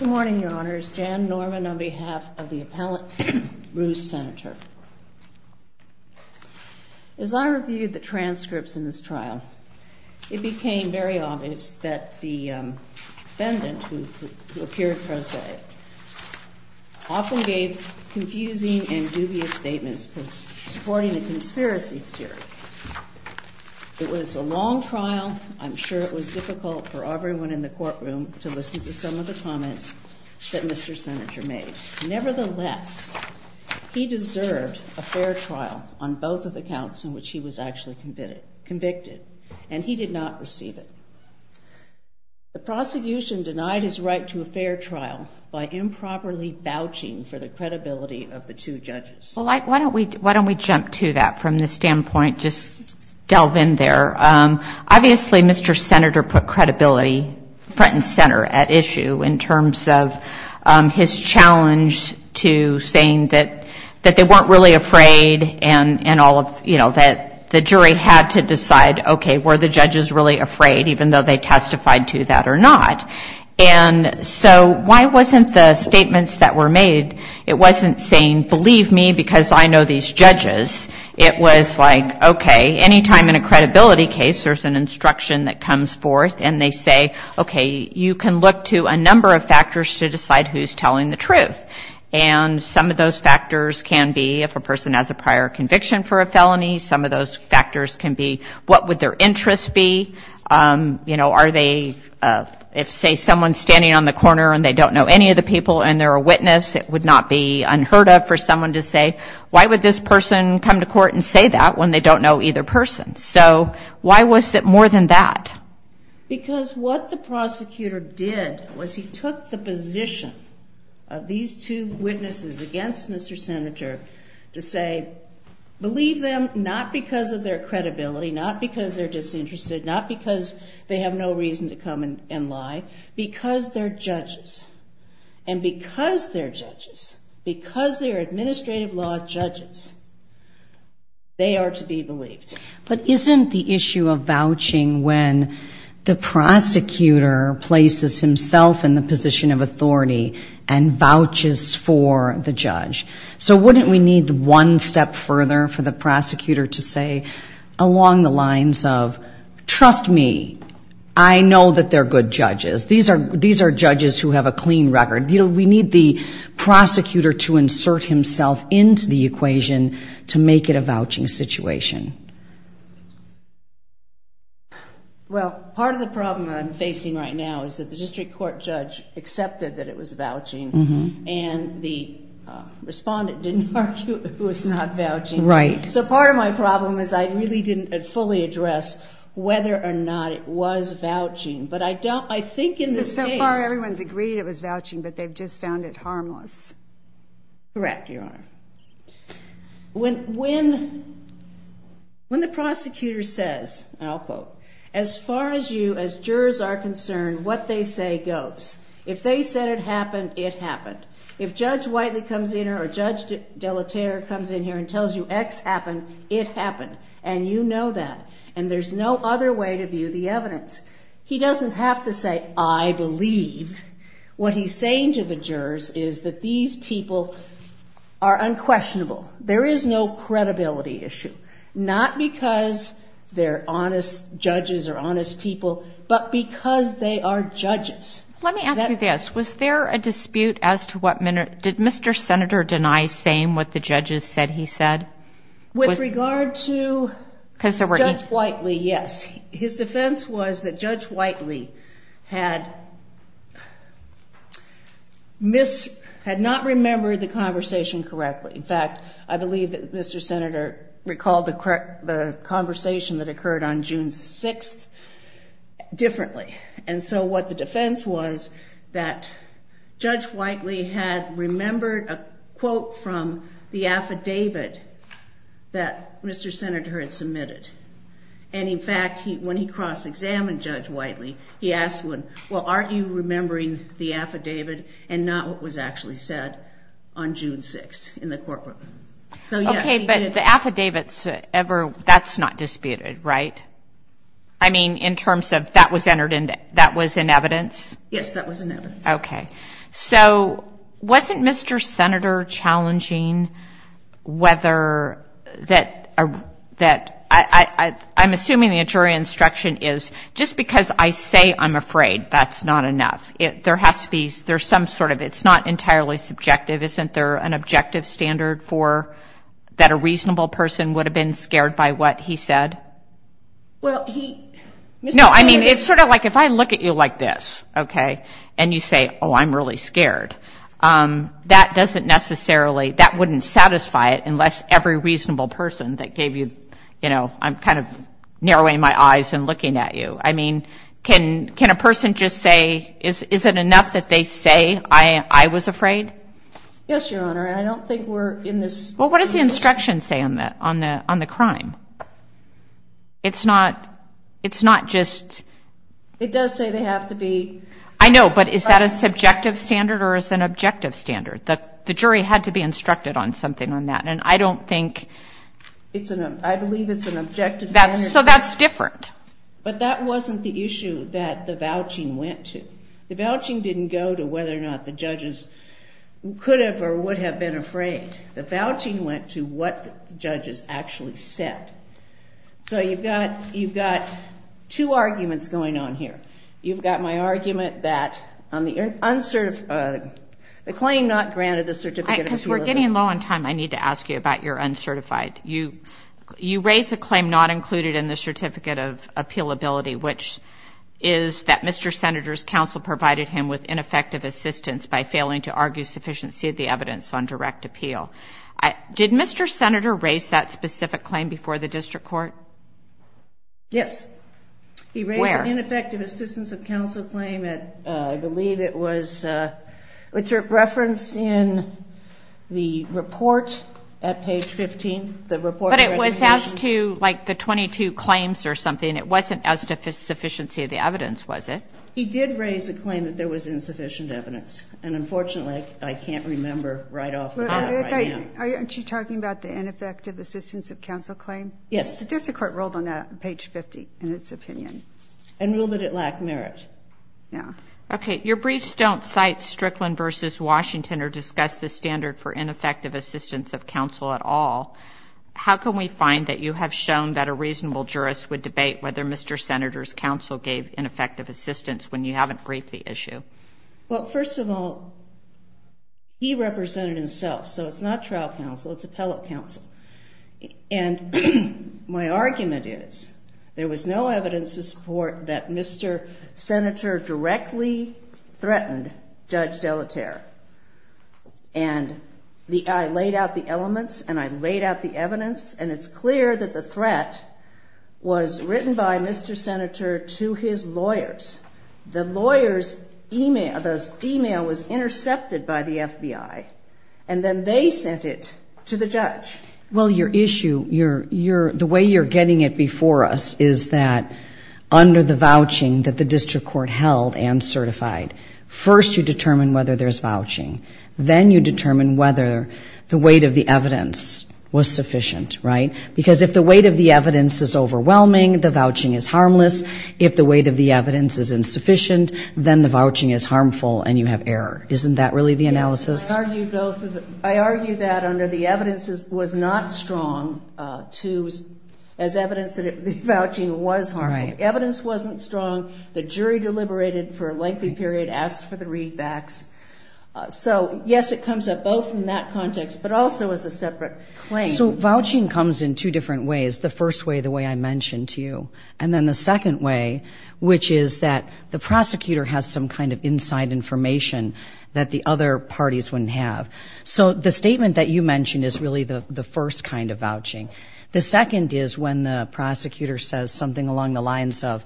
Good morning, Your Honors. Jan Norman on behalf of the Appellant Bruce Senator. As I reviewed the transcripts in this trial, it became very obvious that the defendant, who appeared prosaic, often gave confusing and dubious statements supporting the conspiracy theory. It was a long trial. I'm sure it was difficult for everyone in the courtroom to listen to some of the comments that Mr. Senator made. Nevertheless, he deserved a fair trial on both of the counts in which he was actually convicted, and he did not receive it. The prosecution denied his right to a fair trial by improperly vouching for the credibility of the two judges. Well, why don't we jump to that from the standpoint, just delve in there. Obviously, Mr. Senator put credibility front and center at issue in terms of his challenge to saying that they weren't really afraid and all of, you know, that the jury had to decide, okay, were the judges really afraid, even though they testified to that or not. And so why wasn't the statements that were made, it wasn't saying, believe me, because I know these judges. It was like, okay, any time in a credibility case, there's an instruction that comes forth, and they say, okay, you can look to a number of factors to decide who's telling the truth. And some of those factors can be if a person has a prior conviction for a felony, some of those factors can be what would their interests be, you know, are they, say, someone standing on the corner and they don't know any of the people and they're a witness, it would not be unheard of for someone to say, why would this person come to court and say that when they don't know either person? So why was it more than that? Because what the prosecutor did was he took the position of these two witnesses against Mr. Senator to say, believe them, not because of their credibility, not because they're judges, and because they're judges, because they're administrative law judges, they are to be believed. But isn't the issue of vouching when the prosecutor places himself in the position of authority and vouches for the judge? So wouldn't we need one step further for the prosecutor to say along the lines of, trust me, I know that they're good judges. These are judges who have a clean record. You know, we need the prosecutor to insert himself into the equation to make it a vouching situation. Well, part of the problem I'm facing right now is that the district court judge accepted that it was vouching and the respondent didn't argue it was not vouching. So part of my problem is I really didn't fully address whether or not it was vouching. But I don't, I think in this case... So far everyone's agreed it was vouching, but they've just found it harmless. Correct, Your Honor. When the prosecutor says, and I'll quote, as far as you as jurors are concerned, what they say goes. If they said it happened, it happened. If Judge Whiteley comes in or Judge Delaterre comes in here and tells you X happened, it happened. And you know that. And there's no other way to view the evidence. He doesn't have to say, I believe. What he's saying to the jurors is that these people are unquestionable. There is no credibility issue. Not because they're honest judges or honest people, but because they are judges. Let me ask you this. Was there a dispute as to what, did Mr. Senator deny saying what the judges said he said? With regard to Judge Whiteley, yes. His defense was that Judge Whiteley had not remembered the conversation correctly. In fact, I believe that Mr. Senator recalled the conversation that occurred on June 6th differently. And so what the defense was that Judge Whiteley had remembered a quote from the affidavit that Mr. Senator had submitted. And in fact, when he cross-examined Judge Whiteley, he asked, well, aren't you remembering the affidavit and not what was actually said on June 6th in the courtroom? Okay, but the affidavits ever, that's not disputed, right? I mean, in terms of that was entered in, that was in evidence? Yes, that was in evidence. Okay. So wasn't Mr. Senator challenging whether that, I'm assuming the injury instruction is just because I say I'm afraid, that's not enough. There has to be, there's some sort of, it's not entirely subjective. Isn't there an objective standard for that a reasonable person would have been scared by what he said? Well, he... No, I mean, it's sort of like if I look at you like this, okay, and you say, oh, I'm really scared. That doesn't necessarily, that wouldn't satisfy it unless every reasonable person that gave you, you know, I'm kind of narrowing my eyes and looking at you. I mean, can a person just say, is it enough that they say I was afraid? Yes, Your Honor. I don't think we're in this... Well, what does the instruction say on the crime? It's not just... It does say they have to be... I know, but is that a subjective standard or is it an objective standard? The jury had to be instructed on something on that, and I don't think... I believe it's an objective standard. So that's different. But that wasn't the issue that the vouching went to. The vouching didn't go to whether or not the judges could have or would have been afraid. The vouching went to what judges actually said. So you've got two arguments going on here. You've got my argument that on the uncertified, the claim not granted the certificate of appealability... Because we're getting low on time, I need to ask you about your uncertified. You raised a claim not included in the certificate of appealability, which is that Mr. Senator's ineffective assistance by failing to argue sufficiency of the evidence on direct appeal. Did Mr. Senator raise that specific claim before the district court? Yes. Where? He raised an ineffective assistance of counsel claim at, I believe it was... It's referenced in the report at page 15, the report... But it was as to, like, the 22 claims or something. It wasn't as to sufficiency of the evidence, was it? He did raise a claim that there was insufficient evidence. And unfortunately, I can't remember right off the bat right now. Aren't you talking about the ineffective assistance of counsel claim? Yes. The district court ruled on that on page 50, in its opinion. And ruled that it lacked merit. Yeah. Okay. Your briefs don't cite Strickland v. Washington or discuss the standard for ineffective assistance of counsel at all. How can we find that you have shown that a reasonable jurist would debate whether Mr. Senator's counsel gave ineffective assistance when you haven't briefed the issue? Well, first of all, he represented himself. So it's not trial counsel. It's appellate counsel. And my argument is there was no evidence to support that Mr. Senator directly threatened Judge Delaterre. And I laid out the elements and I laid out the evidence. And it's clear that the threat was written by Mr. Senator to his lawyers. The lawyer's email was intercepted by the FBI. And then they sent it to the judge. Well your issue, the way you're getting it before us is that under the vouching that the district court held and certified, first you determine whether there's vouching. Then you determine whether the weight of the evidence was sufficient, right? Because if the weight of the evidence is overwhelming, the vouching is harmless. If the weight of the evidence is insufficient, then the vouching is harmful and you have error. Isn't that really the analysis? Yes. I argue that under the evidence was not strong to as evidence that the vouching was harmful. The evidence wasn't strong. The jury deliberated for a lengthy period, asked for three facts. So yes, it comes up both in that context, but also as a separate claim. So vouching comes in two different ways. The first way, the way I mentioned to you. And then the second way, which is that the prosecutor has some kind of inside information that the other parties wouldn't have. So the statement that you mentioned is really the first kind of vouching. The second is when the prosecutor says something along the lines of,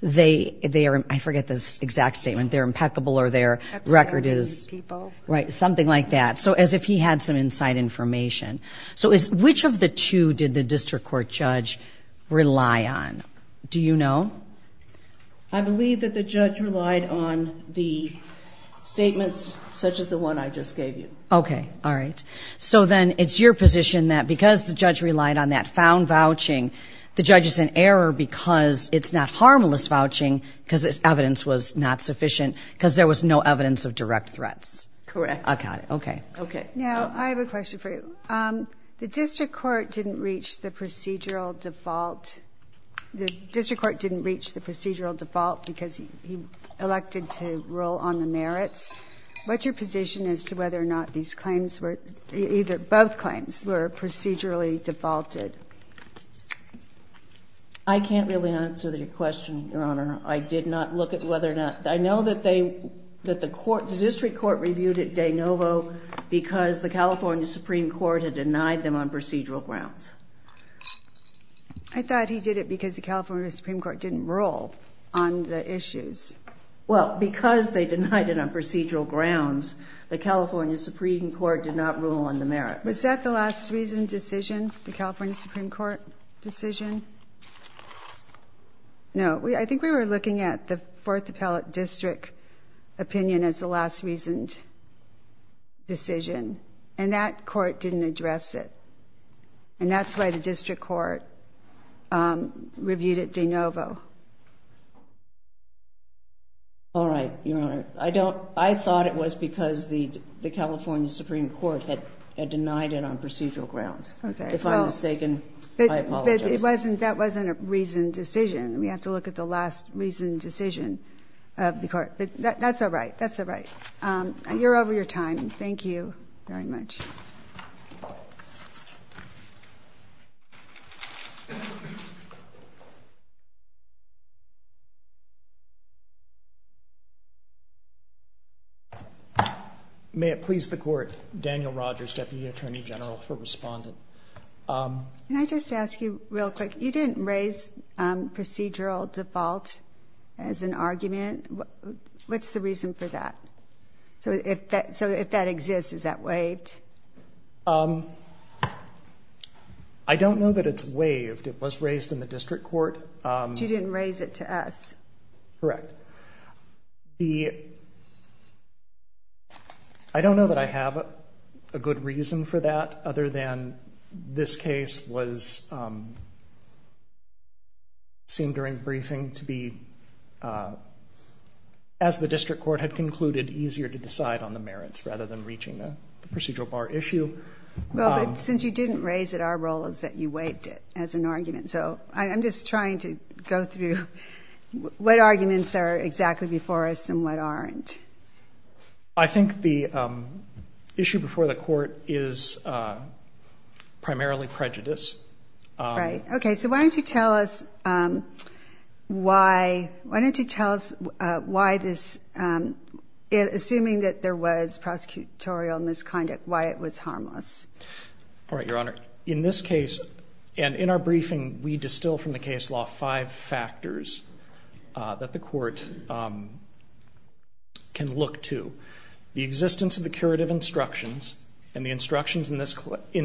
they are, I forget the exact statement, they're impeccable or their record is, right? Something like that. So as if he had some inside information. So which of the two did the district court judge rely on? Do you know? I believe that the judge relied on the statements such as the one I just gave you. Okay. All right. So then it's your position that because the judge relied on that found vouching, the judge is in error because it's not harmless vouching because it's evidence was not sufficient because there was no evidence of direct threats. Correct. Okay. Okay. Okay. Now I have a question for you. The district court didn't reach the procedural default. The district court didn't reach the procedural default because he elected to roll on the merits. What's your position as to whether or not these claims were either, both claims were procedurally defaulted? I can't really answer that question, Your Honor. I did not look at whether or not, I know that they, that the court, the district court reviewed it de novo because the California Supreme Court had denied them on procedural grounds. I thought he did it because the California Supreme Court didn't roll on the issues. Well, because they denied it on procedural grounds, the California Supreme Court did not rule on the merits. Was that the last reasoned decision, the California Supreme Court decision? No. I think we were looking at the fourth appellate district opinion as the last reasoned decision, and that court didn't address it. And that's why the district court reviewed it de novo. All right, Your Honor. I don't, I thought it was because the California Supreme Court had denied it on procedural grounds. If I'm mistaken, I apologize. That wasn't a reasoned decision. We have to look at the last reasoned decision of the court. But that's all right. That's all right. You're over your time. Thank you very much. May it please the court, Daniel Rogers, Deputy Attorney General for Respondent. Can I just ask you real quick, you didn't raise procedural default as an argument. What's the reason for that? So if that exists, is that waived? I don't know that it's waived. It was raised in the district court. But you didn't raise it to us. Correct. I don't know that I have a good reason for that other than this case was seen during easier to decide on the merits rather than reaching the procedural bar issue. Well, but since you didn't raise it, our role is that you waived it as an argument. So I'm just trying to go through what arguments are exactly before us and what aren't. I think the issue before the court is primarily prejudice. Right. Okay. So why don't you tell us why? Why don't you tell us why this, assuming that there was prosecutorial misconduct, why it was harmless? All right, Your Honor. In this case and in our briefing, we distill from the case law five factors that the court can look to. The existence of the curative instructions and the instructions in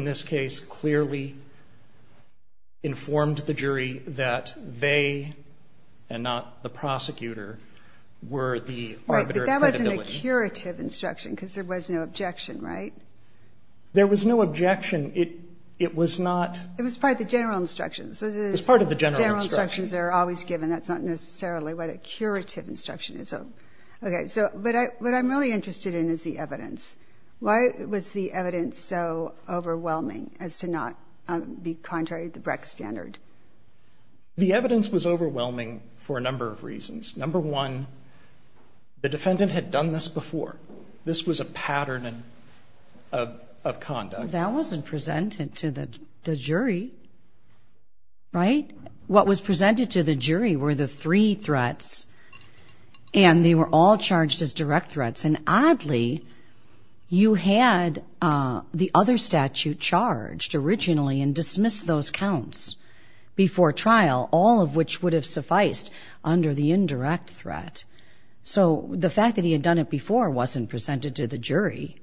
this case clearly informed the jury that they, and not the prosecutor, were the arbiter of credibility. Right, but that wasn't a curative instruction because there was no objection, right? There was no objection. It was not... It was part of the general instructions. It was part of the general instructions. General instructions are always given. That's not necessarily what a curative instruction is. Okay, so what I'm really interested in is the evidence. Why was the evidence so overwhelming as to not be contrary to the Brex standard? The evidence was overwhelming for a number of reasons. Number one, the defendant had done this before. This was a pattern of conduct. That wasn't presented to the jury, right? What was presented to the jury were the three threats, and they were all charged as direct threats. And oddly, you had the other statute charged originally and dismissed those counts before trial, all of which would have sufficed under the indirect threat. So the fact that he had done it before wasn't presented to the jury.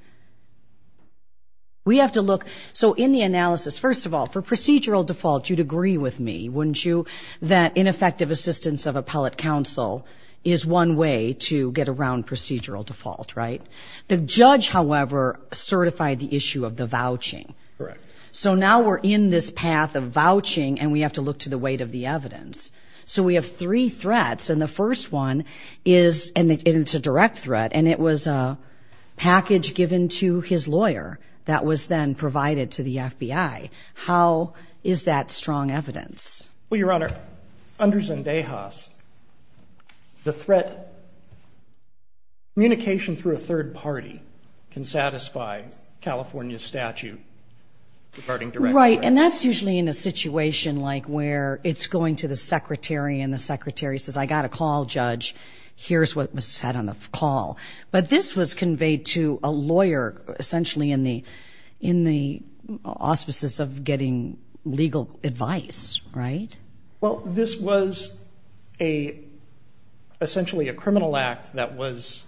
We have to look... So in the analysis, first of all, for procedural default, you'd agree with me, wouldn't you, that ineffective assistance of appellate counsel is one way to get around procedural default, right? The judge, however, certified the issue of the vouching. So now we're in this path of vouching, and we have to look to the weight of the evidence. So we have three threats, and the first one is... And it's a direct threat, and it was a package given to his lawyer that was then provided to the FBI. How is that strong evidence? Well, Your Honor, under Zendejas, the threat... Communication through a third party can satisfy California statute regarding direct threats. Right, and that's usually in a situation like where it's going to the secretary, and the secretary says, I got a call, judge. Here's what was said on the call. But this was conveyed to a lawyer, essentially in the auspices of getting legal advice, right? Well, this was essentially a criminal act that was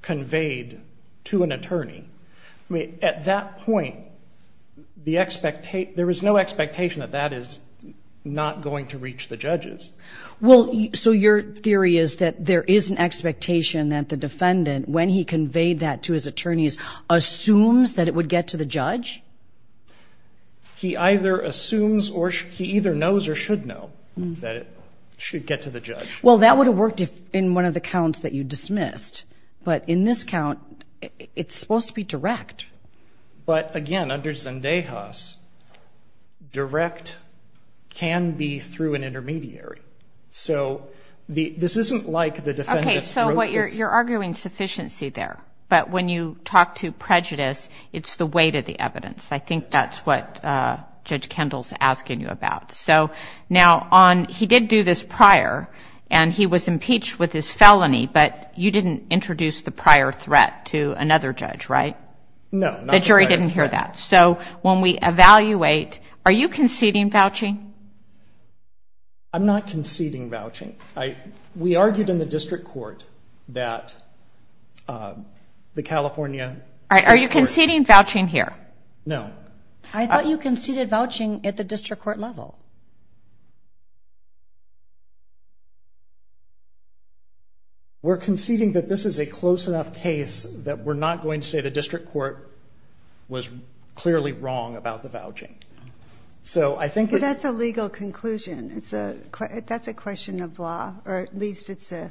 conveyed to an attorney. At that point, there was no expectation that that is not going to reach the judges. Well, so your theory is that there is an expectation that the defendant, when he conveyed that to his attorneys, assumes that it would get to the judge? He either assumes or he either knows or should know that it should get to the judge. Well, that would have worked in one of the counts that you dismissed. But in this count, it's supposed to be direct. But again, under Zendejas, direct can be through an intermediary. So this isn't like the defendant's throat is... Okay, so you're arguing sufficiency there. But when you talk to prejudice, it's the weight of the evidence. I think that's what Judge Kendall's asking you about. So now, he did do this prior, and he was impeached with his felony, but you didn't introduce the prior threat to another judge, right? No, not the prior threat. The jury didn't hear that. So when we evaluate, are you conceding vouching? I'm not conceding vouching. We argued in the district court that the California... Are you conceding vouching here? No. I thought you conceded vouching at the district court level. We're conceding that this is a close enough case that we're not going to say the district court was clearly wrong about the vouching. So I think... That's a legal conclusion. That's a question of law, or at least it's a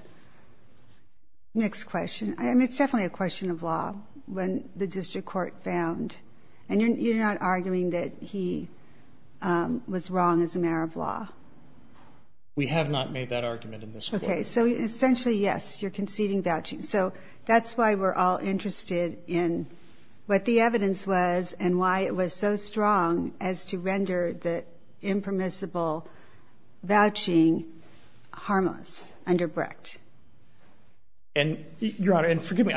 mixed question. It's definitely a question of law when the district court found. And you're not arguing that he was wrong as a mayor of law? We have not made that argument in this court. Okay. So essentially, yes, you're conceding vouching. So that's why we're all interested in what the evidence was and why it was so strong as to render the impermissible vouching harmless under BRICT. And Your Honor, and forgive me,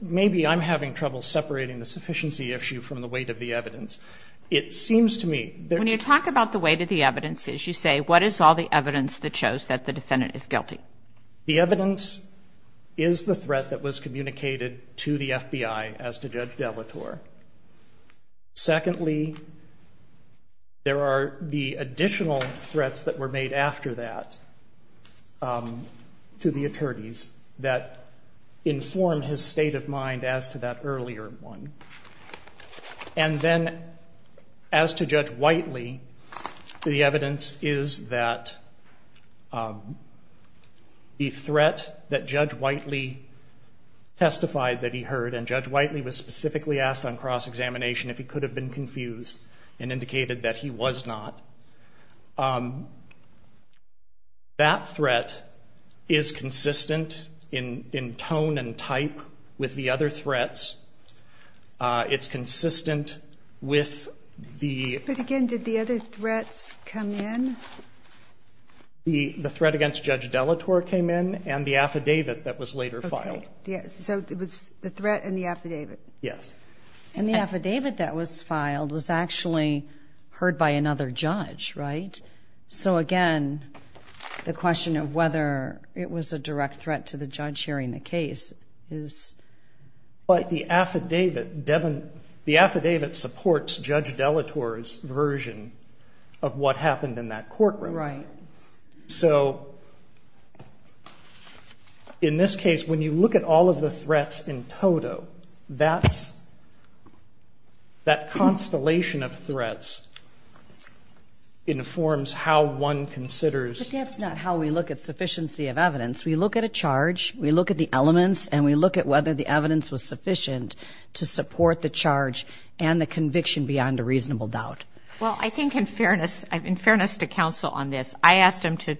maybe I'm having trouble separating the sufficiency issue from the weight of the evidence. It seems to me... When you talk about the weight of the evidence, you say, what is all the evidence that shows that the defendant is guilty? The evidence is the threat that was communicated to the FBI as to Judge Delator. Secondly, there are the additional threats that were made after that to the attorneys that inform his state of mind as to that earlier one. And then as to Judge Whiteley, the evidence is that the threat that Judge Whiteley testified that he heard, and Judge Whiteley was specifically asked on cross-examination if he could have been confused and indicated that he was not. That threat is consistent in tone and type with the other threats. It's consistent with the... But again, did the other threats come in? The threat against Judge Delator came in, and the affidavit that was later filed. Okay. So it was the threat and the affidavit. Yes. And the affidavit that was filed was actually heard by another judge, right? So again, the question of whether it was a direct threat to the judge hearing the case is... But the affidavit supports Judge Delator's version of what happened in that courtroom. So in this case, when you look at all of the threats in total, that's the threat. That constellation of threats informs how one considers... But that's not how we look at sufficiency of evidence. We look at a charge, we look at the elements, and we look at whether the evidence was sufficient to support the charge and the conviction beyond a reasonable doubt. Well, I think in fairness to counsel on this, I asked him to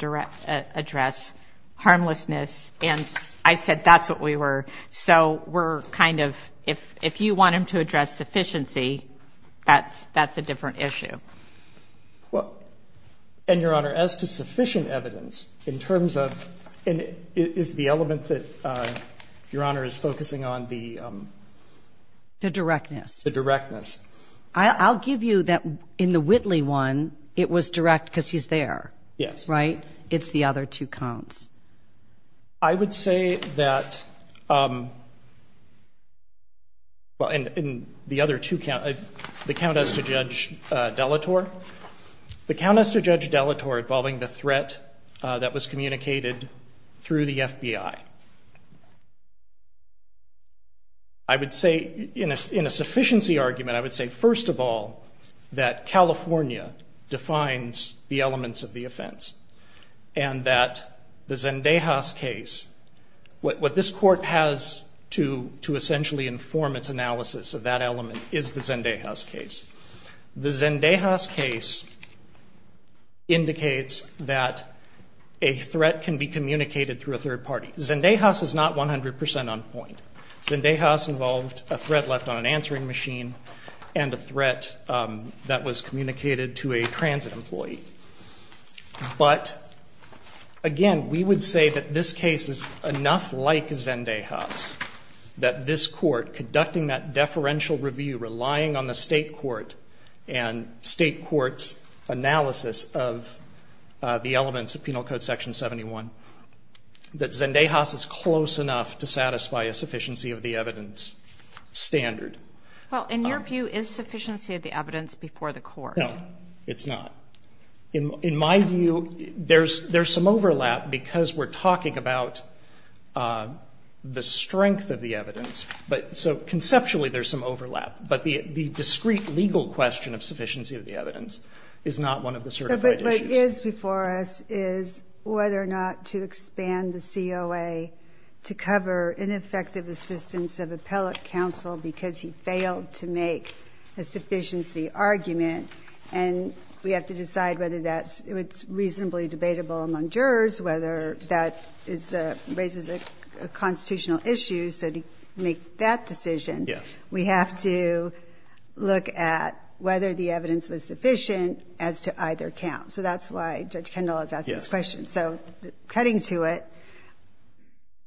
address harmlessness, and I think that's a different issue. I think that's a different issue. Well, and, Your Honor, as to sufficient evidence, in terms of... And is the element that Your Honor is focusing on the... The directness. The directness. I'll give you that in the Whitley one, it was direct because he's there. Yes. Right? It's the other two counts. I would say that... Well, in the other two counts, the count as to Judge Delator, the count as to Judge Delator involving the threat that was communicated through the FBI, I would say in a sufficiency argument, I would say, first of all, that California defines the Zendejas case. What this Court has to essentially inform its analysis of that element is the Zendejas case. The Zendejas case indicates that a threat can be communicated through a third party. Zendejas is not 100 percent on point. Zendejas involved a threat left on an answering machine and a threat that was communicated to a transit employee. But, again, we would say that this case is enough like Zendejas that this Court, conducting that deferential review, relying on the State Court and State Court's analysis of the elements of Penal Code Section 71, that Zendejas is close enough to satisfy a sufficiency of the evidence standard. Well, in your view, is sufficiency of the evidence before the Court? No, it's not. In my view, there's some overlap because we're talking about the strength of the evidence. So, conceptually, there's some overlap. But the discrete legal question of sufficiency of the evidence is not one of the certified issues. But what is before us is whether or not to expand the COA to cover ineffective assistance of appellate counsel because he failed to make a sufficiency argument and we have to decide whether that's reasonably debatable among jurors, whether that raises a constitutional issue. So to make that decision, we have to look at whether the evidence was sufficient as to either count. So that's why Judge Kendall is asking this question. Yes. So cutting to it,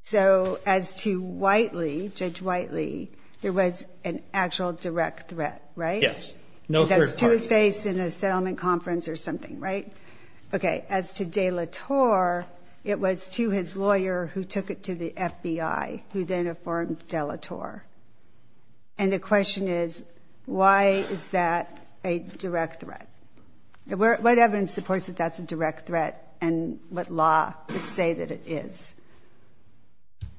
so as to Whiteley, Judge Whiteley, there was an actual direct threat, right? Yes. No third party. That's to his face in a settlement conference or something, right? Okay. As to De La Torre, it was to his lawyer who took it to the FBI who then informed De La Torre. And the question is, why is that a direct threat? What evidence supports that that's a direct threat and what law would say that it is?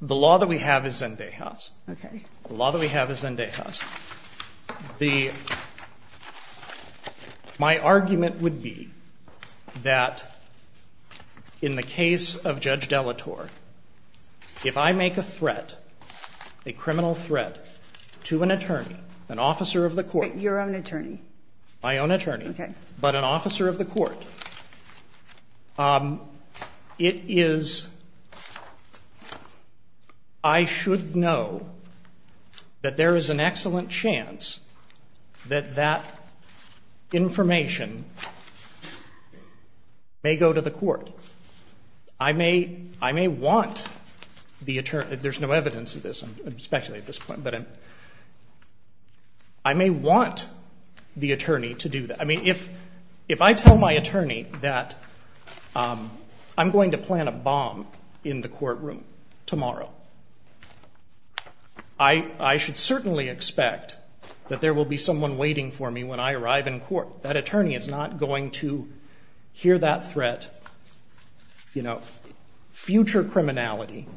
The law that we have is Zendejas. Okay. The law that we have is Zendejas. The, my argument would be that in the case of Judge De La Torre, if I make a threat, a criminal threat to an attorney, an officer of the court. But your own attorney. My own attorney. Okay. But an officer of the court. It is, I should know that there is a direct threat. That there is an excellent chance that that information may go to the court. I may, I may want the attorney, there's no evidence of this, I'm speculating at this point, but I may want the attorney to do that. I mean, if, if I tell my attorney that I'm going to do that, I should certainly expect that there will be someone waiting for me when I arrive in court. That attorney is not going to hear that threat, you know, future criminality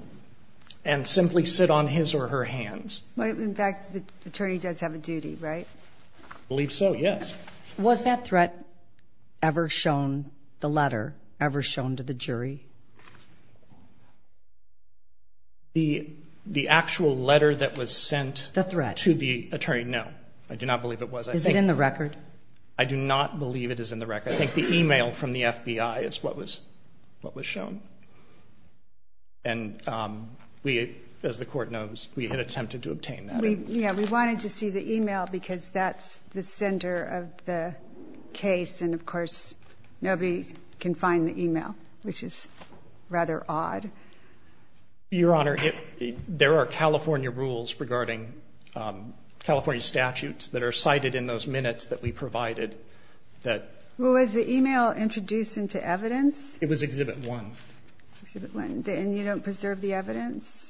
and simply sit on his or her hands. In fact, the attorney does have a duty, right? I believe so, yes. Was that threat ever shown, the letter, ever shown to the jury? The, the actual letter that was sent to the attorney? No. I do not believe it was. Is it in the record? I do not believe it is in the record. I think the e-mail from the FBI is what was, what was shown. And we, as the court knows, we had attempted to obtain that. Yeah, we wanted to see the e-mail because that's the center of the case. And of course, nobody can find the e-mail, which is rather odd. Your Honor, there are California rules regarding California statutes that are cited in those minutes that we provided that... Well, was the e-mail introduced into evidence? It was Exhibit 1. Exhibit 1. And you don't preserve the evidence?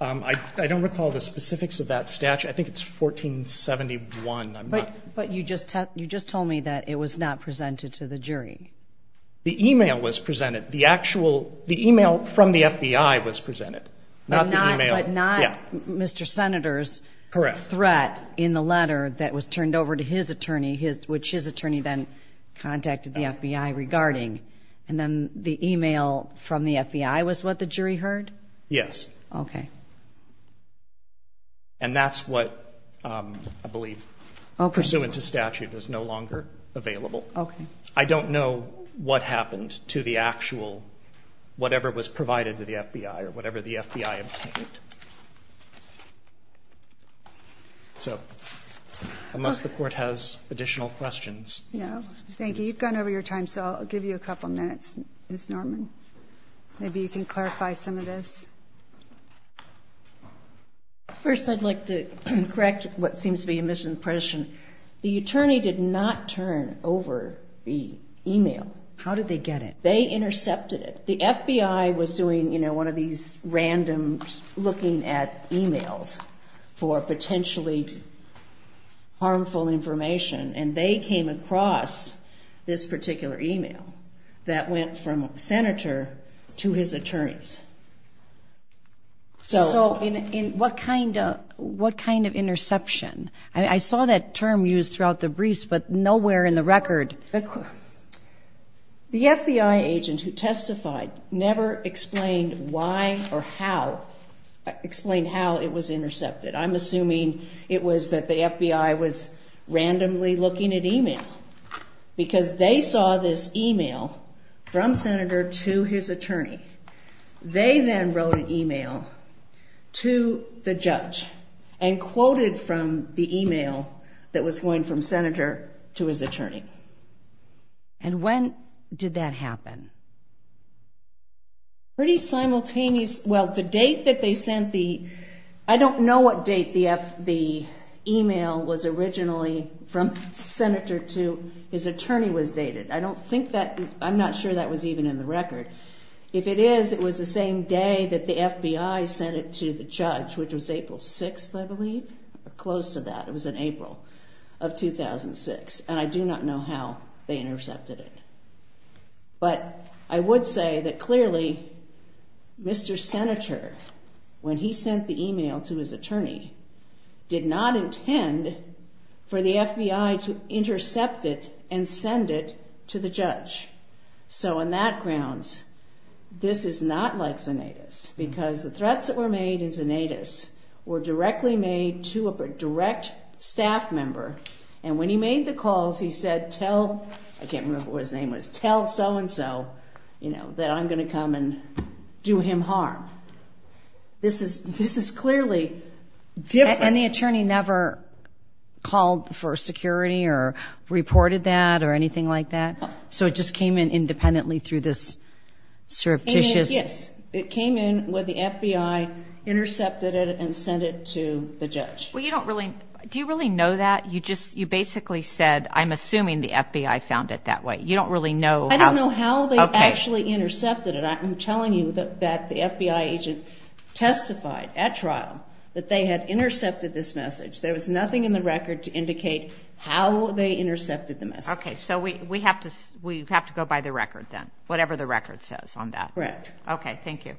I don't recall the specifics of that statute. I think it's 1471. I'm not... But you just told me that it was not presented to the jury. The e-mail was presented. The actual, the e-mail from the FBI was presented. Not the e-mail... But not Mr. Senator's threat in the letter that was turned over to his attorney, which his attorney then contacted the FBI regarding. And then the e-mail from the FBI was what the jury heard? Yes. Okay. And that's what I believe, pursuant to statute, is no longer available. Okay. I don't know what happened to the actual, whatever was provided to the FBI or whatever the FBI obtained. So unless the Court has additional questions... Yeah. Thank you. You've gone over your time, so I'll give you a couple minutes, Ms. Norman. Maybe you can clarify some of this. First, I'd like to correct what seems to be a misimpression. The attorney did not turn over the e-mail. How did they get it? They intercepted it. The FBI was doing, you know, one of these random looking at e-mails for potentially harmful information, and they came across this So in what kind of interception? I saw that term used throughout the briefs, but nowhere in the record. The FBI agent who testified never explained why or how it was intercepted. I'm assuming it was that the FBI was randomly looking at e-mail, because they saw this e-mail from Senator to his attorney. They then wrote an e-mail to the judge and quoted from the e-mail that was going from Senator to his attorney. And when did that happen? Pretty simultaneous. Well, the date that they sent the... I don't know what date the e-mail was originally from Senator to his attorney was dated. I don't think that... I'm not sure that was even in the record. If it is, it was the same day that the FBI sent it to the judge, which was April 6th, I believe. Close to that. It was in April of 2006. And I do not know how they intercepted it. But I would say that clearly, Mr. Senator, when he sent the e-mail to his attorney, did not intend for the FBI to intercept it and send it to the judge. So on that grounds, this is not like Zanatus, because the threats that were made in Zanatus were directly made to a direct staff member. And when he made the calls, he said, tell... I can't remember what his name was. Tell so-and-so that I'm going to come and do him harm. This is clearly different. And the attorney never called for security or reported that or anything like that? No. So it just came in independently through this surreptitious... Yes. It came in when the FBI intercepted it and sent it to the judge. Well, you don't really... Do you really know that? You just... You basically said, I'm assuming the FBI found it that way. You don't really know how... I don't know how they actually intercepted it. I'm telling you that the FBI agent testified at trial that they had intercepted this message. There was nothing in the record to indicate how they intercepted the message. Okay. So we have to go by the record then, whatever the record says on that. Correct. Okay. Thank you.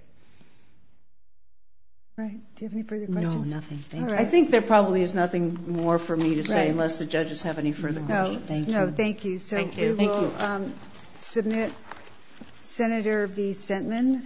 All right. Do you have any further questions? No, nothing. Thank you. I think there probably is nothing more for me to say unless the judges have any further questions. No, thank you. So we will submit Senator B. Sentman.